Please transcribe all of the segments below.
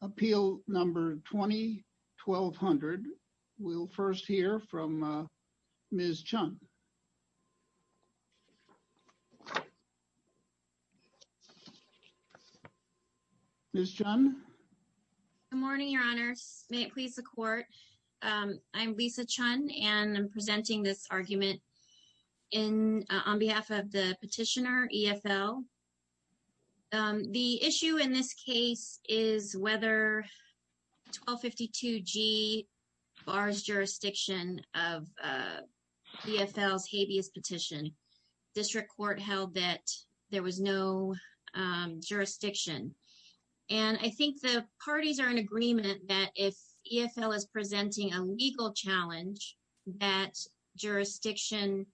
Appeal No. 20-1200. We'll first hear from Ms. Chun. Ms. Chun? Good morning, Your Honors. May it please the Court, I'm Lisa Chun, and I'm presenting this The issue in this case is whether 1252G bars jurisdiction of E. F. L.'s habeas petition. District Court held that there was no jurisdiction. And I think the parties are in agreement that if E. F. L. is presenting a legal challenge, that jurisdiction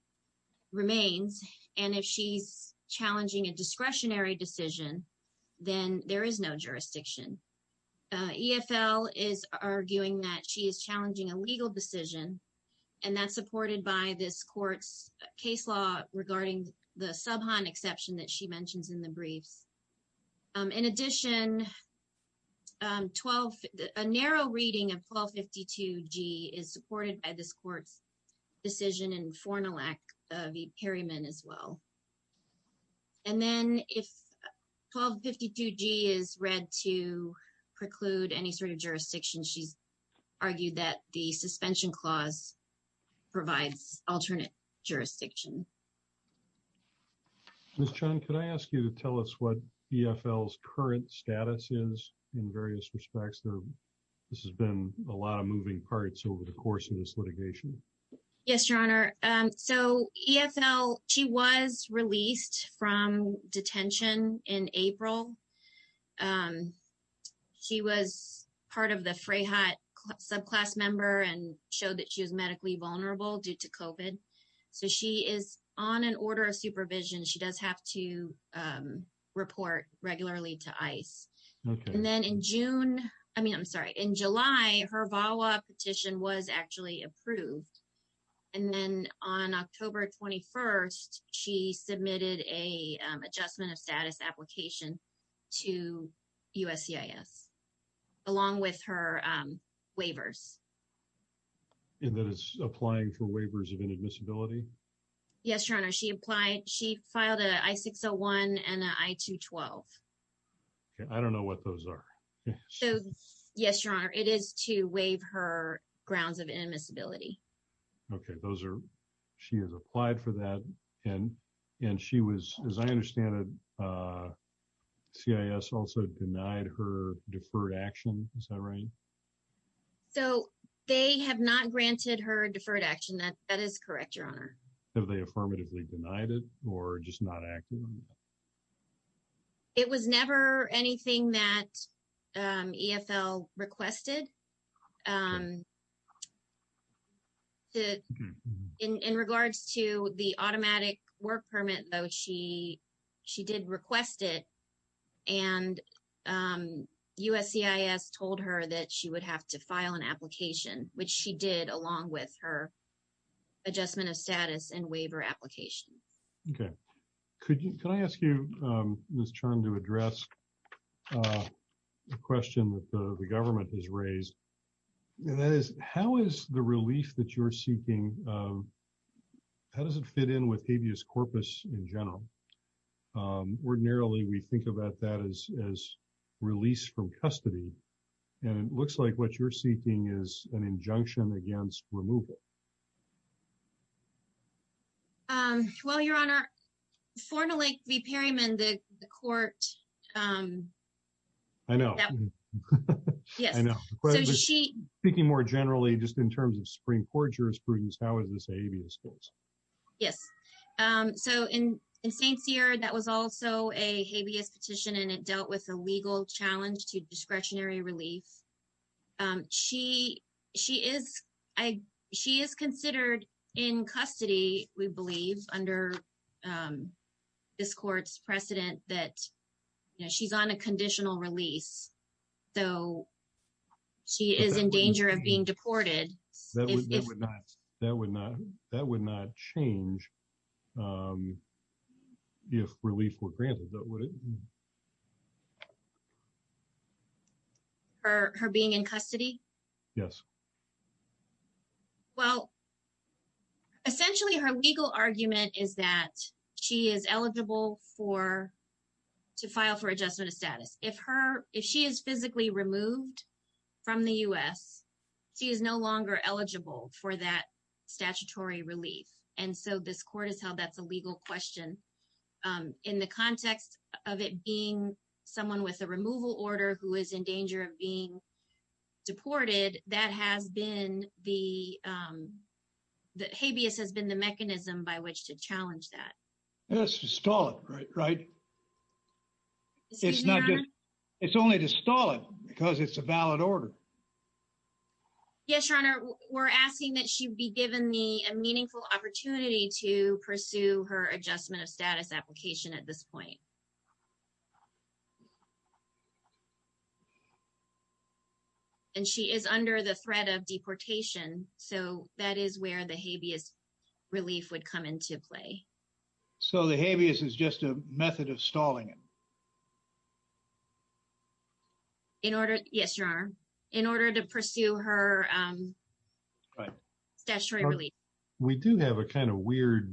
remains. And if she's challenging a discretionary decision, then there is no jurisdiction. E. F. L. is arguing that she is challenging a legal decision. And that's supported by this Court's case law regarding the subhon exception that she mentions in the briefs. In addition, a narrow reading of 1252G is supported by this Court's decision in Fornal Act v. Perryman as well. And then if 1252G is read to preclude any sort of jurisdiction, she's argued that the suspension clause provides alternate jurisdiction. Ms. Chun, could I ask you to tell us what E. F. L.'s current status is in various respects? This has been a lot of moving parts over the course of this litigation. Yes, Your Honor. So E. F. L. she was released from detention in April. She was part of the Freyhut subclass member and showed that she was medically vulnerable due to COVID. So she is on an order of supervision. She does have to report regularly to ICE. And then in June, I mean, I'm sorry, in July, her VAWA petition was actually approved. And then on October 21st, she submitted a adjustment of status application to USCIS along with her waivers. And that is applying for waivers of inadmissibility? Yes, Your Honor. She applied. She filed an I-601 and an I-212. I don't know what those are. Yes, Your Honor. It is to waive her grounds of inadmissibility. Okay. She has applied for that. And she was, as I understand it, CIS also denied her deferred action. Is that right? So they have not granted her deferred action. That is correct, Your Honor. Have they affirmatively denied it or just not acting on it? It was never anything that EFL requested. In regards to the automatic work permit, though, she did request it. And USCIS told her that she would have to file an application, which she did along with her adjustment of status and waiver application. Okay. Can I ask you, Ms. Chern, to address the question that the government has raised? And that is, how is the relief that you're seeking, how does it fit in with habeas corpus in general? Ordinarily, we think about that as release from custody. And it looks like what you're seeking is an injunction against removal. Well, Your Honor, formally, the pyramid, the court. I know. Yes, I know. So she speaking more generally, just in terms of Supreme Court jurisprudence, how is this habeas corpus? Yes. So in St. Cyr, that was also a habeas petition, and it dealt with a legal challenge to discretionary relief. She is considered in custody, we believe, under this court's precedent that she's on a conditional release. So she is in danger of being deported. That would not change if relief were granted. Her being in custody? Yes. Well, essentially, her legal argument is that she is eligible to file for adjustment of status. If she is physically removed from the U.S., she is no longer eligible for that statutory relief. And so this court has held that's a legal question. In the context of it being someone with a removal order who is in danger of being deported. That has been the that habeas has been the mechanism by which to challenge that. Let's just call it right. It's not good. It's only to stall it because it's a valid order. Yes, Your Honor, we're asking that she be given the meaningful opportunity to pursue her adjustment of status application at this point. And she is under the threat of deportation. So that is where the habeas relief would come into play. So the habeas is just a method of stalling it. In order. Yes, Your Honor. In order to pursue her statutory relief. We do have a kind of weird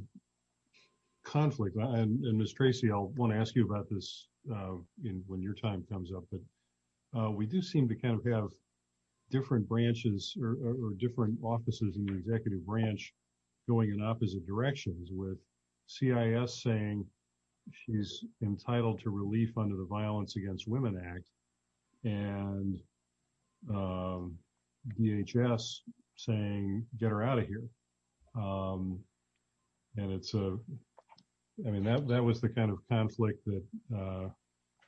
conflict. And Miss Tracy, I want to ask you about this when your time comes up. We do seem to kind of have different branches or different offices in the executive branch going in opposite directions with CIS saying she's entitled to relief under the Violence Against Women Act. And DHS saying get her out of here. And it's a I mean, that was the kind of conflict that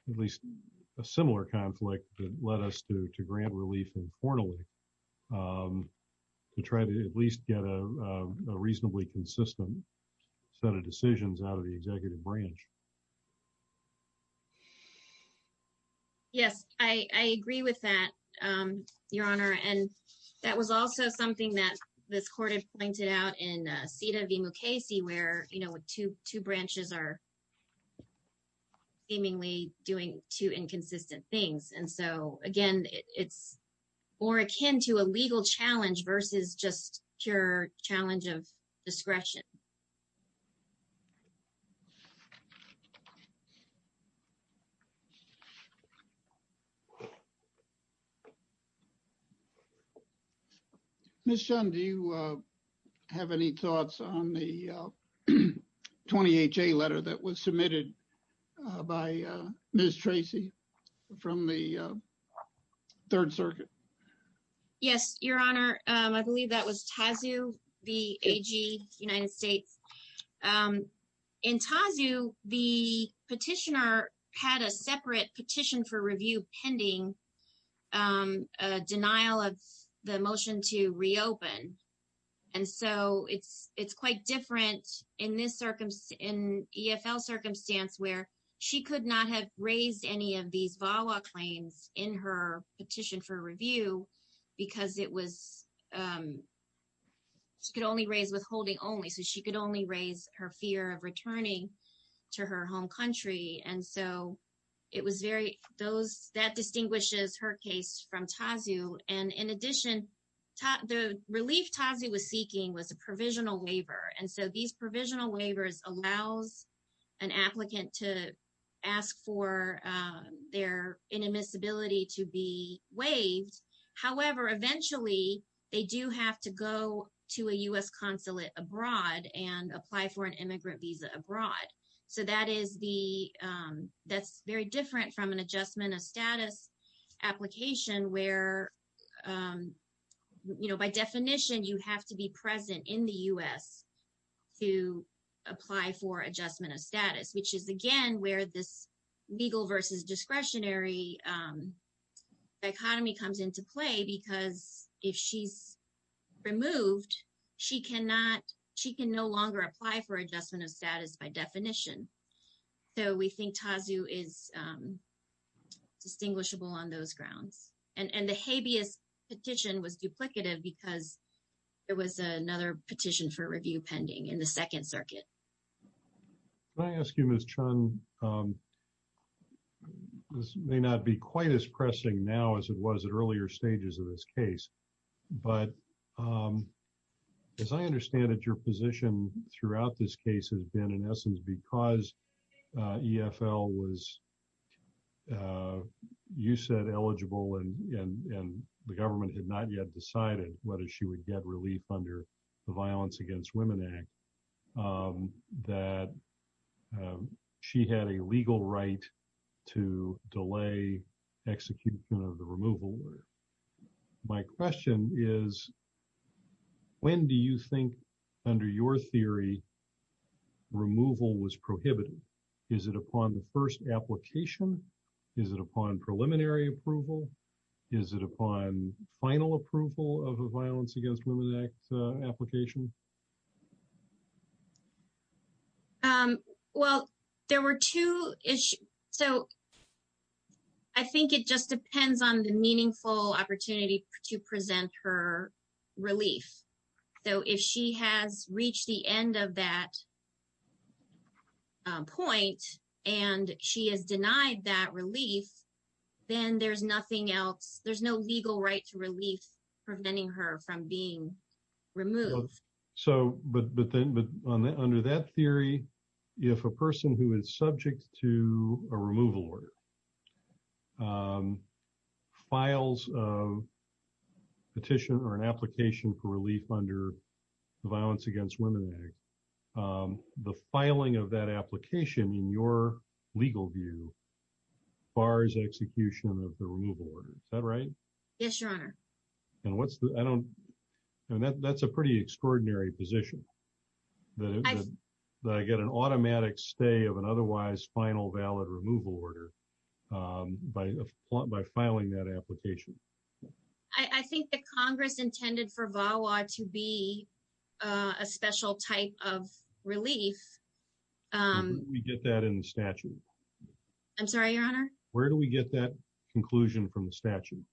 at least a similar conflict that led us to grant relief informally to try to at least get a reasonably consistent set of decisions out of the executive branch. Yes, I agree with that, Your Honor, and that was also something that this court has pointed out in CEDA v Mukasey where two branches are seemingly doing two inconsistent things. And so, again, it's more akin to a legal challenge versus just pure challenge of discretion. Miss John, do you have any thoughts on the 20HA letter that was submitted by Miss Tracy from the Third Circuit? Yes, Your Honor. I believe that was TAZU the AG United States. In TAZU, the petitioner had a separate petition for review pending a denial of the motion to reopen. And so it's quite different in this EFL circumstance where she could not have raised any of these VAWA claims in her petition for review because it was she could only raise withholding only. So she could only raise her fear of returning to her home country. And so it was very those that distinguishes her case from TAZU. And in addition, the relief TAZU was seeking was a provisional waiver. And so these provisional waivers allows an applicant to ask for their inadmissibility to be waived. However, eventually, they do have to go to a U.S. consulate abroad and apply for an immigrant visa abroad. So that is the that's very different from an adjustment of status application where, you know, by definition, you have to be present in the U.S. to apply for adjustment of status, which is, again, where this legal versus discretionary dichotomy comes into play. Because if she's removed, she cannot she can no longer apply for adjustment of status by definition. So we think TAZU is distinguishable on those grounds. And the habeas petition was duplicative because it was another petition for review pending in the Second Circuit. I ask you, Ms. Chun, this may not be quite as pressing now as it was at earlier stages of this case. But as I understand it, your position throughout this case has been, in essence, because EFL was, you said, eligible and the government had not yet decided whether she would get relief under the Violence Against Women Act, that she had a legal right to delay execution of the removal. My question is, when do you think, under your theory, removal was prohibited? Is it upon the first application? Is it upon preliminary approval? Is it upon final approval of the Violence Against Women Act application? Well, there were two issues. So I think it just depends on the meaningful opportunity to present her relief. So if she has reached the end of that point and she is denied that relief, then there's nothing else. There's no legal right to relief preventing her from being removed. But under that theory, if a person who is subject to a removal order files a petition or an application for relief under the Violence Against Women Act, the filing of that application in your legal view bars execution of the removal order. Is that right? Yes, Your Honor. And that's a pretty extraordinary position. That I get an automatic stay of an otherwise final valid removal order by filing that application. I think that Congress intended for VAWA to be a special type of relief. Where do we get that in the statute? I'm sorry, Your Honor? Where do we get that conclusion from the statute?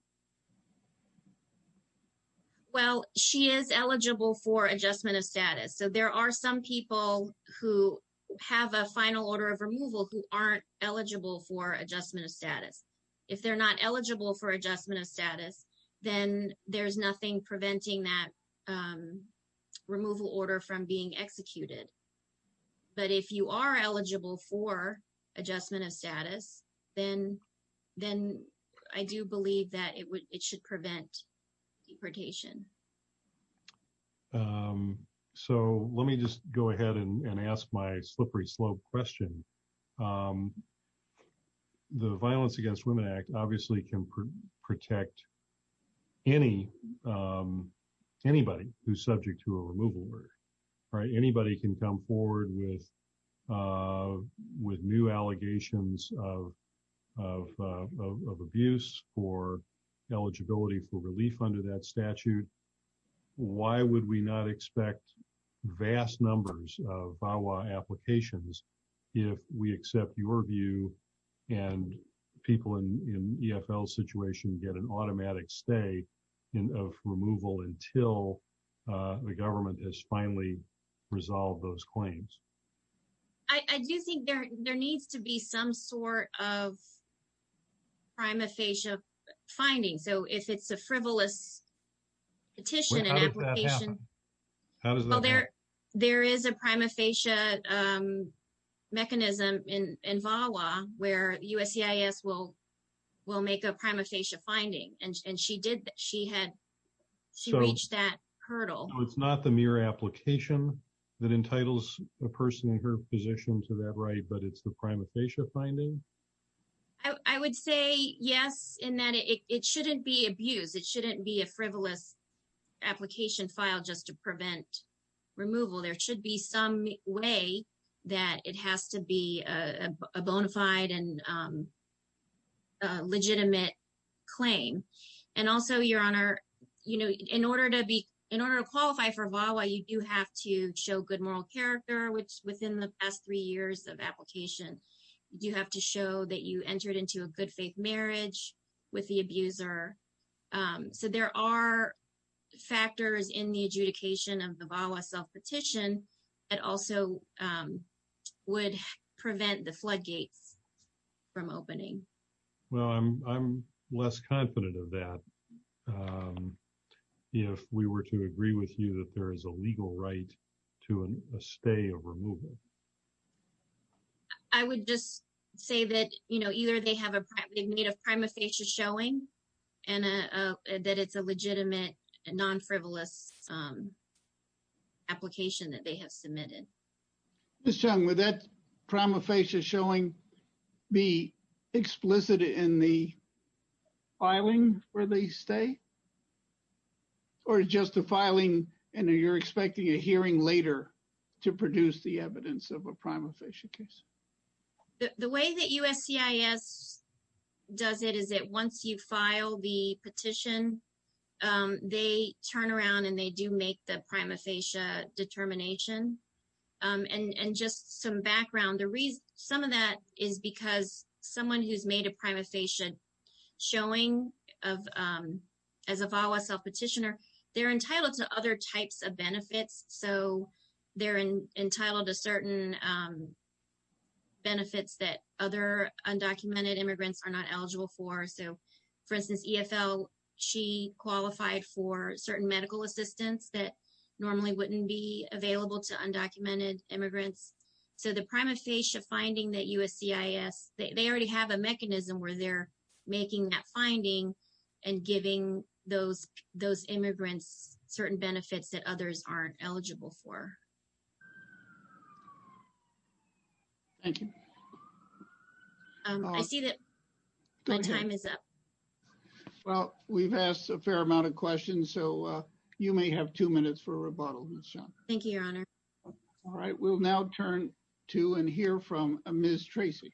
Well, she is eligible for adjustment of status. So there are some people who have a final order of removal who aren't eligible for adjustment of status. If they're not eligible for adjustment of status, then there's nothing preventing that removal order from being executed. But if you are eligible for adjustment of status, then I do believe that it should prevent deportation. So let me just go ahead and ask my slippery slope question. The Violence Against Women Act obviously can protect anybody who's subject to a removal order. Anybody can come forward with new allegations of abuse or eligibility for relief under that statute. Why would we not expect vast numbers of VAWA applications if we accept your view and people in the EFL situation get an automatic stay of removal until the government has finally resolved those claims? I do think there needs to be some sort of prima facie finding. So if it's a frivolous petition and application, there is a prima facie mechanism in VAWA where USCIS will make a prima facie finding. And she reached that hurdle. So it's not the mere application that entitles a person in her position to that right, but it's the prima facie finding? I would say yes, in that it shouldn't be abused. It shouldn't be a frivolous application filed just to prevent removal. There should be some way that it has to be a bona fide and legitimate claim. In order to qualify for VAWA, you do have to show good moral character, which within the past three years of application, you have to show that you entered into a good faith marriage with the abuser. So there are factors in the adjudication of the VAWA self-petition that also would prevent the floodgates from opening. Well, I'm less confident of that. If we were to agree with you that there is a legal right to a stay of removal. I would just say that, you know, either they have a need of prima facie showing and that it's a legitimate non-frivolous application that they have submitted. Ms. Chung, would that prima facie showing be explicit in the filing for the stay? Or just the filing and you're expecting a hearing later to produce the evidence of a prima facie case? The way that USCIS does it is that once you file the petition, they turn around and they do make the prima facie determination. And just some background, some of that is because someone who's made a prima facie showing as a VAWA self-petitioner, they're entitled to other types of benefits. So they're entitled to certain benefits that other undocumented immigrants are not eligible for. So, for instance, EFL, she qualified for certain medical assistance that normally wouldn't be available to undocumented immigrants. So the prima facie finding that USCIS, they already have a mechanism where they're making that finding and giving those immigrants certain benefits that others aren't eligible for. Thank you. I see that my time is up. Well, we've asked a fair amount of questions. So you may have two minutes for rebuttal, Ms. Chung. Thank you, Your Honor. All right, we'll now turn to and hear from Ms. Tracy.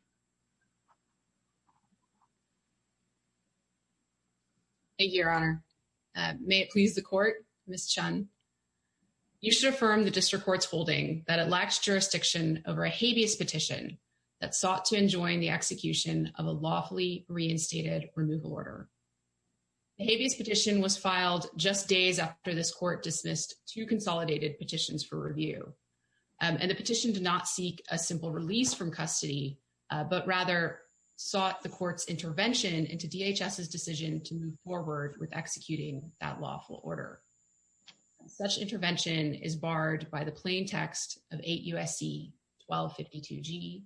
Thank you, Your Honor. May it please the court, Ms. Chung. You should affirm the district court's holding that it lacks jurisdiction over a habeas petition that sought to enjoin the execution of a lawfully reinstated removal order. The habeas petition was filed just days after this court dismissed two consolidated petitions for review. And the petition did not seek a simple release from custody, but rather sought the court's intervention into DHS's decision to move forward with executing that lawful order. Such intervention is barred by the plain text of 8 U.S.C. 1252G,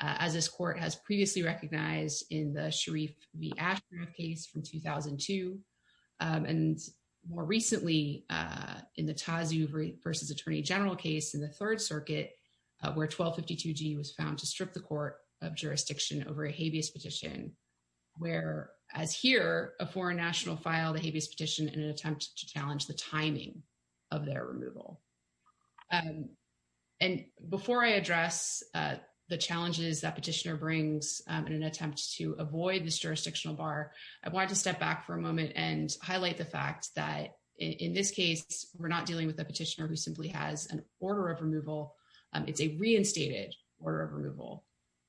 as this court has previously recognized in the Sharif v. Ashraf case from 2002. And more recently, in the Tazu v. Attorney General case in the Third Circuit, where 1252G was found to strip the court of jurisdiction over a habeas petition, where, as here, a foreign national filed a habeas petition in an attempt to challenge the timing of their removal. And before I address the challenges that petitioner brings in an attempt to avoid this jurisdictional bar, I wanted to step back for a moment and highlight the fact that, in this case, we're not dealing with a petitioner who simply has an order of removal. It's a reinstated order of removal.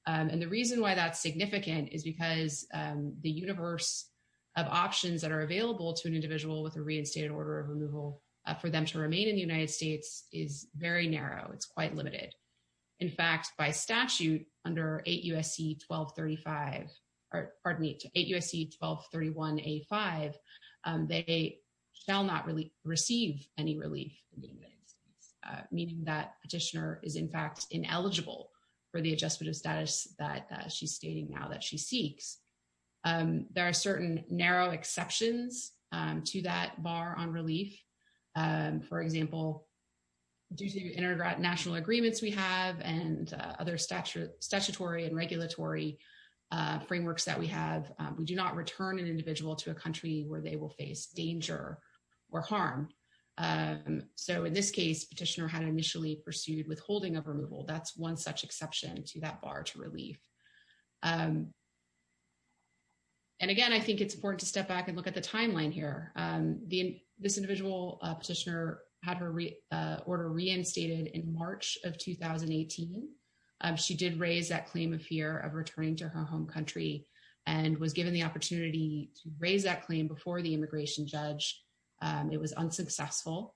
And the reason why that's significant is because the universe of options that are available to an individual with a reinstated order of removal for them to remain in the United States is very narrow. It's quite limited. In fact, by statute, under 8 U.S.C. 1235, pardon me, 8 U.S.C. 1231A5, they shall not receive any relief, meaning that petitioner is, in fact, ineligible for the adjustment of status that she's stating now that she seeks. There are certain narrow exceptions to that bar on relief. For example, due to international agreements we have and other statutory and regulatory frameworks that we have, we do not return an individual to a country where they will face danger or harm. So in this case, petitioner had initially pursued withholding of removal. That's one such exception to that bar to relief. And again, I think it's important to step back and look at the timeline here. This individual petitioner had her order reinstated in March of 2018. She did raise that claim of fear of returning to her home country and was given the opportunity to raise that claim before the immigration judge. It was unsuccessful.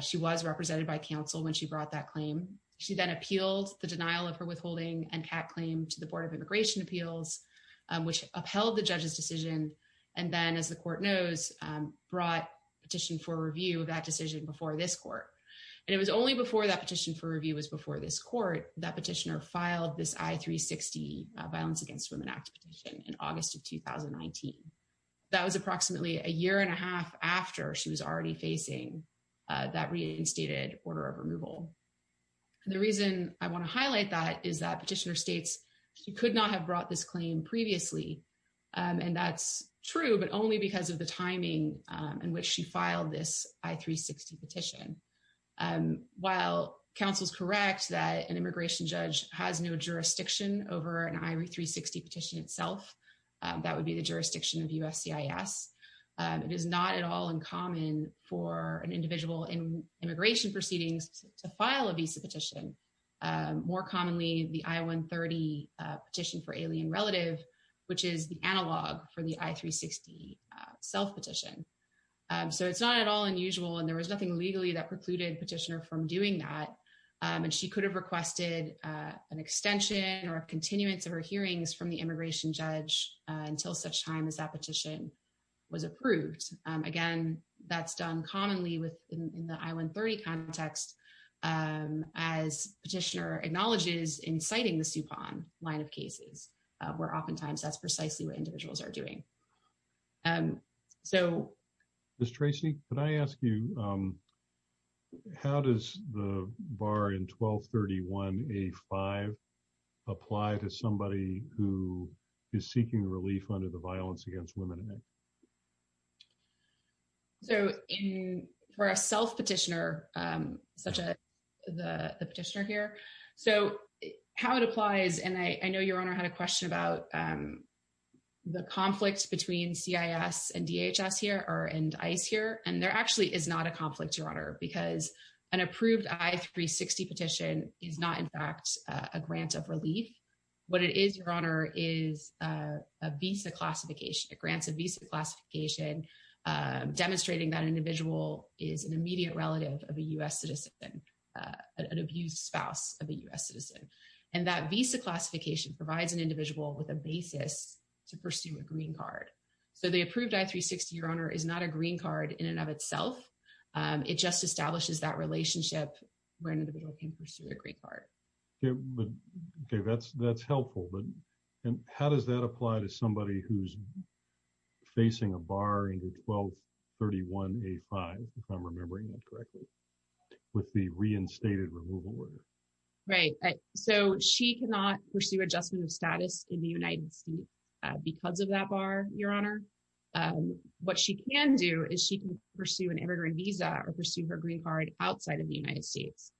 She was represented by counsel when she brought that claim. She then appealed the denial of her withholding and CAC claim to the Board of Immigration Appeals, which upheld the judge's decision and then, as the court knows, brought petition for review of that decision before this court. And it was only before that petition for review was before this court that petitioner filed this I-360 Violence Against Women Act petition in August of 2019. That was approximately a year and a half after she was already facing that reinstated order of removal. The reason I want to highlight that is that petitioner states she could not have brought this claim previously. And that's true, but only because of the timing in which she filed this I-360 petition. While counsel's correct that an immigration judge has no jurisdiction over an I-360 petition itself, that would be the jurisdiction of USCIS, it is not at all uncommon for an individual in immigration proceedings to file a visa petition, more commonly the I-130 petition for alien relative, which is the analog for the I-360 self-petition. So it's not at all unusual, and there was nothing legally that precluded petitioner from doing that. And she could have requested an extension or a continuance of her hearings from the immigration judge until such time as that petition was approved. Again, that's done commonly within the I-130 context, as petitioner acknowledges inciting the SUPON line of cases, where oftentimes that's precisely what individuals are doing. Ms. Tracy, could I ask you, how does the bar in 1231A-5 apply to somebody who is seeking relief under the Violence Against Women Act? So for a self-petitioner, such as the petitioner here, so how it applies, and I know Your Honor had a question about the conflict between CIS and DHS here or and ICE here, and there actually is not a conflict, Your Honor, because an approved I-360 petition is not in fact a grant of relief. What it is, Your Honor, is a visa classification. It grants a visa classification demonstrating that individual is an immediate relative of a U.S. citizen, an abused spouse of a U.S. citizen. And that visa classification provides an individual with a basis to pursue a green card. So the approved I-360, Your Honor, is not a green card in and of itself. It just establishes that relationship where an individual can pursue a green card. Okay, that's helpful, but how does that apply to somebody who's facing a bar in 1231A-5, if I'm remembering that correctly, with the reinstated removal order? Right, so she cannot pursue adjustment of status in the United States because of that bar, Your Honor. What she can do is she can pursue an immigrant visa or pursue her green card outside of the United States.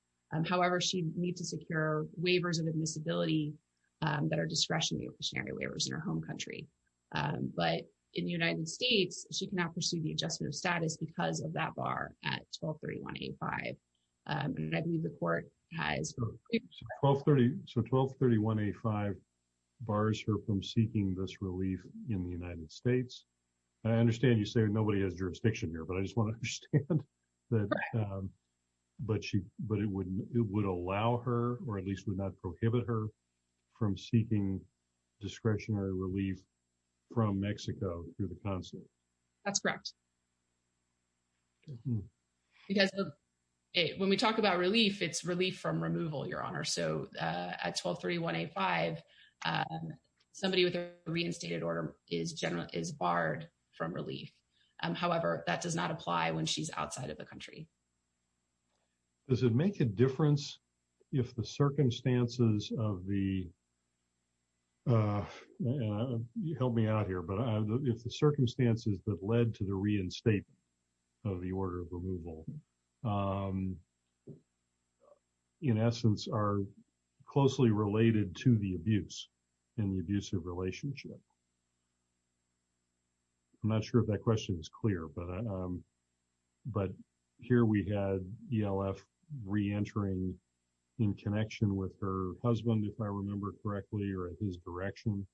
However, she needs to secure waivers of admissibility that are discretionary waivers in her home country. But in the United States, she cannot pursue the adjustment of status because of that bar at 1231A-5. So 1231A-5 bars her from seeking this relief in the United States? I understand you say nobody has jurisdiction here, but I just want to understand that it would allow her or at least would not prohibit her from seeking discretionary relief from Mexico through the consulate. That's correct. Because when we talk about relief, it's relief from removal, Your Honor. So at 1231A-5, somebody with a reinstated order is generally is barred from relief. However, that does not apply when she's outside of the country. Does it make a difference if the circumstances of the, help me out here, but if the circumstances that led to the reinstate of the order of removal, in essence, are closely related to the abuse and the abusive relationship? I'm not sure if that question is clear, but here we had ELF reentering in connection with her husband, if I remember correctly, or his direction.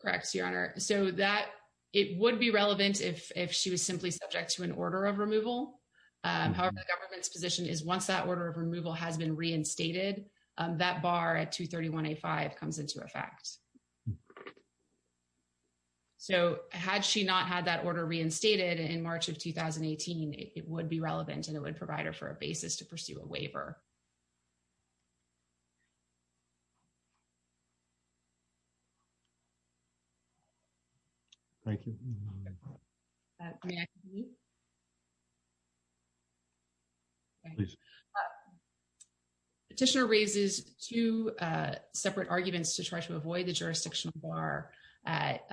Correct, Your Honor. So that it would be relevant if she was simply subject to an order of removal. However, the government's position is once that order of removal has been reinstated, that bar at 231A-5 comes into effect. So had she not had that order reinstated in March of 2018, it would be relevant and it would provide her for a basis to pursue a waiver. Thank you. May I continue? Please. Petitioner raises two separate arguments to try to avoid the jurisdictional bar at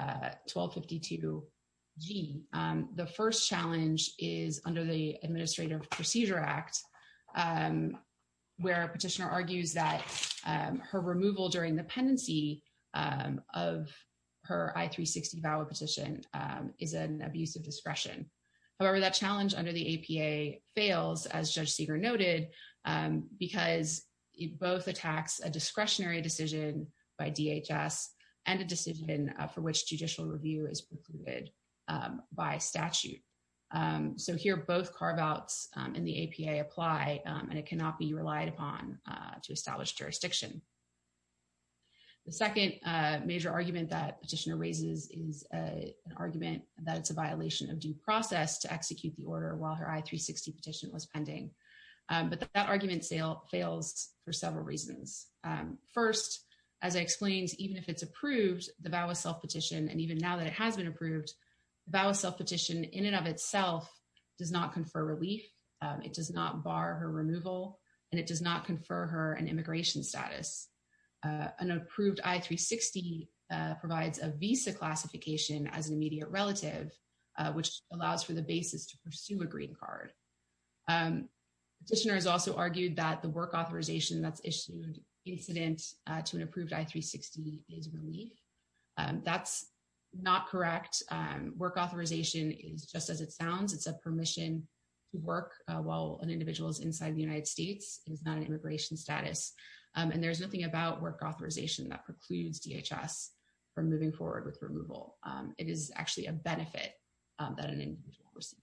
1252G. The first challenge is under the Administrative Procedure Act, where a petitioner argues that her removal during the pendency of her I-360 VAWA petition is an abuse of discretion. However, that challenge under the APA fails, as Judge Seeger noted, because it both attacks a discretionary decision by DHS and a decision for which judicial review is precluded by statute. So here both carve-outs in the APA apply, and it cannot be relied upon to establish jurisdiction. The second major argument that petitioner raises is an argument that it's a violation of due process to execute the order while her I-360 petition was pending. But that argument fails for several reasons. First, as I explained, even if it's approved, the VAWA self-petition, and even now that it has been approved, the VAWA self-petition in and of itself does not confer relief, it does not bar her removal, and it does not confer her an immigration status. An approved I-360 provides a visa classification as an immediate relative, which allows for the basis to pursue a green card. Petitioners also argued that the work authorization that's issued incident to an approved I-360 is relief. That's not correct. Work authorization is just as it sounds. It's a permission to work while an individual is inside the United States. It is not an immigration status. And there's nothing about work authorization that precludes DHS from moving forward with removal. It is actually a benefit that an individual receives.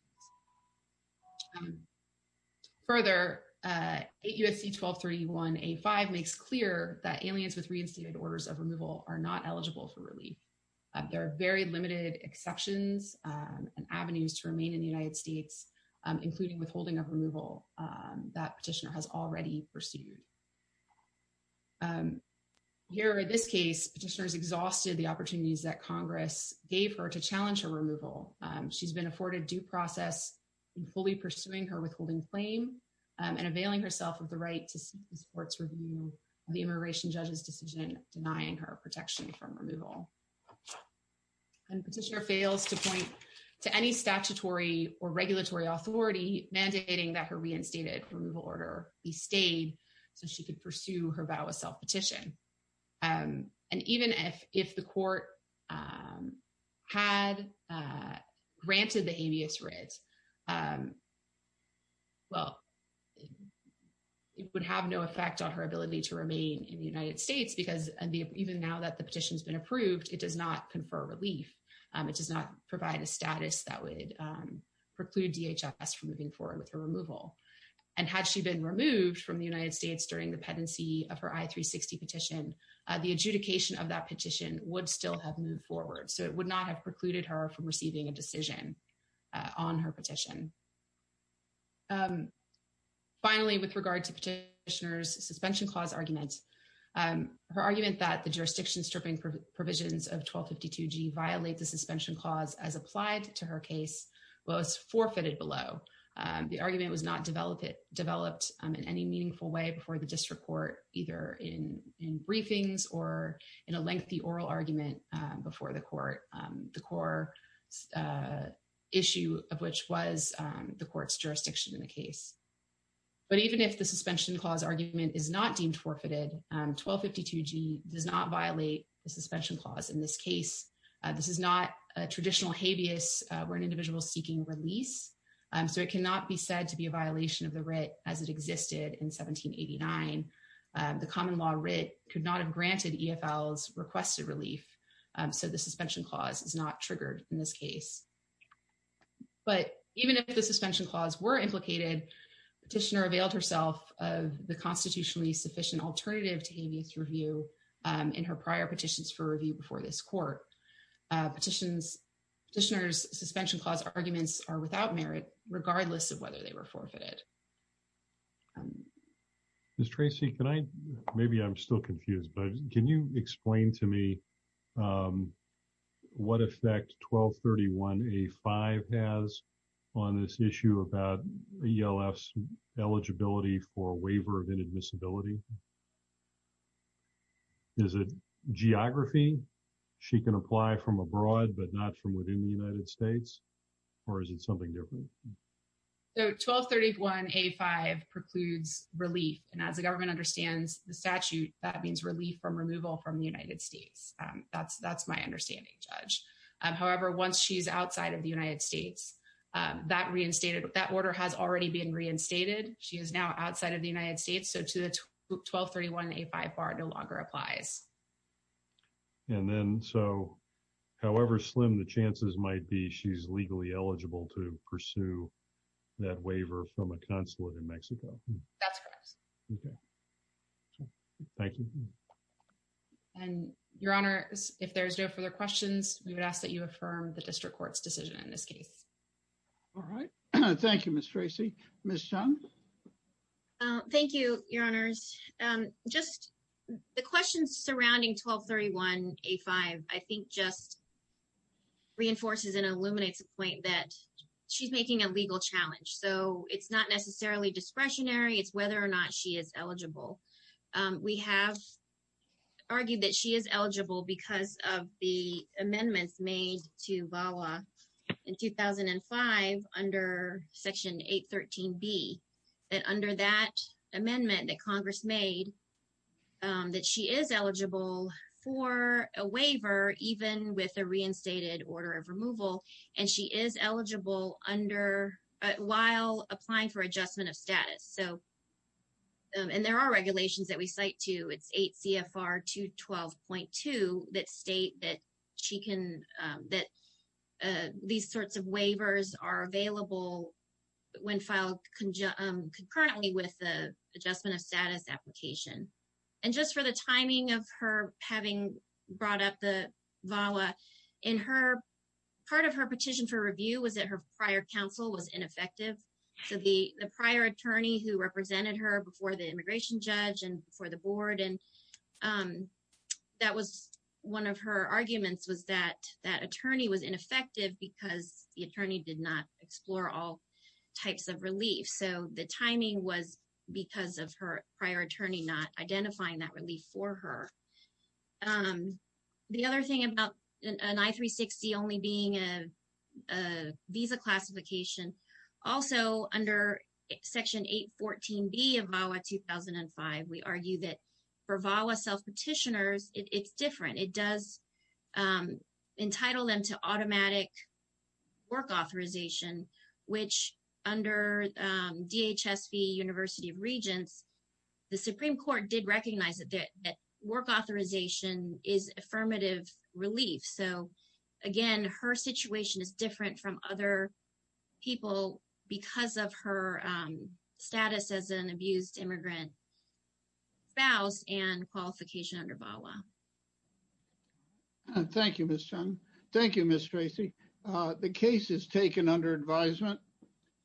Further, 8 U.S.C. 1231A5 makes clear that aliens with reinstated orders of removal are not eligible for relief. There are very limited exceptions and avenues to remain in the United States, including withholding of removal that petitioner has already pursued. Here, in this case, petitioners exhausted the opportunities that Congress gave her to challenge her removal. She's been afforded due process in fully pursuing her withholding claim and availing herself of the right to seek the court's review of the immigration judge's decision denying her protection from removal. And petitioner fails to point to any statutory or regulatory authority mandating that her reinstated removal order be stayed so she could pursue her vow of self-petition. And even if the court had granted the habeas writ, well, it would have no effect on her ability to remain in the United States because even now that the petition has been approved, it does not confer relief. It does not provide a status that would preclude DHS from moving forward with her removal. And had she been removed from the United States during the pendency of her I-360 petition, the adjudication of that petition would still have moved forward. So it would not have precluded her from receiving a decision on her petition. Finally, with regard to petitioner's suspension clause argument, her argument that the jurisdiction stripping provisions of 1252G violate the suspension clause as applied to her case was forfeited below. The argument was not developed in any meaningful way before the district court either in briefings or in a lengthy oral argument before the court, the core issue of which was the court's jurisdiction in the case. But even if the suspension clause argument is not deemed forfeited, 1252G does not violate the suspension clause in this case. This is not a traditional habeas where an individual is seeking release. So it cannot be said to be a violation of the writ as it existed in 1789. The common law writ could not have granted EFL's requested relief. So the suspension clause is not triggered in this case. But even if the suspension clause were implicated, petitioner availed herself of the constitutionally sufficient alternative to habeas review in her prior petitions for review before this court. Petitioner's suspension clause arguments are without merit, regardless of whether they were forfeited. Ms. Tracy, can I, maybe I'm still confused, but can you explain to me what effect 1231A5 has on this issue about ELF's eligibility for waiver of inadmissibility? Is it geography? She can apply from abroad, but not from within the United States? Or is it something different? So 1231A5 precludes relief. And as the government understands the statute, that means relief from removal from the United States. That's that's my understanding, Judge. However, once she's outside of the United States, that reinstated that order has already been reinstated. She is now outside of the United States. So to the 1231A5 bar no longer applies. And then so, however slim the chances might be, she's legally eligible to pursue that waiver from a consulate in Mexico. That's correct. Okay. Thank you. And, Your Honor, if there's no further questions, we would ask that you affirm the district court's decision in this case. All right. Thank you, Ms. Tracy. Ms. Chun? Thank you, Your Honors. Just the questions surrounding 1231A5 I think just reinforces and illuminates the point that she's making a legal challenge. So it's not necessarily discretionary. It's whether or not she is eligible. We have argued that she is eligible because of the amendments made to VAWA in 2005 under Section 813B. And under that amendment that Congress made, that she is eligible for a waiver even with a reinstated order of removal. And she is eligible while applying for adjustment of status. And there are regulations that we cite to. It's 8 CFR 212.2 that state that these sorts of waivers are available when filed concurrently with the adjustment of status application. And just for the timing of her having brought up the VAWA, part of her petition for review was that her prior counsel was ineffective. So the prior attorney who represented her before the immigration judge and before the board, and that was one of her arguments, was that that attorney was ineffective because the attorney did not explore all types of relief. So the timing was because of her prior attorney not identifying that relief for her. The other thing about an I-360 only being a visa classification, also under Section 814B of VAWA 2005, we argue that for VAWA self-petitioners, it's different. It does entitle them to automatic work authorization, which under DHS v. University of Regents, the Supreme Court did recognize that work authorization is affirmative relief. So, again, her situation is different from other people because of her status as an abused immigrant spouse and qualification under VAWA. Thank you, Ms. Chung. Thank you, Ms. Tracy. The case is taken under advisement.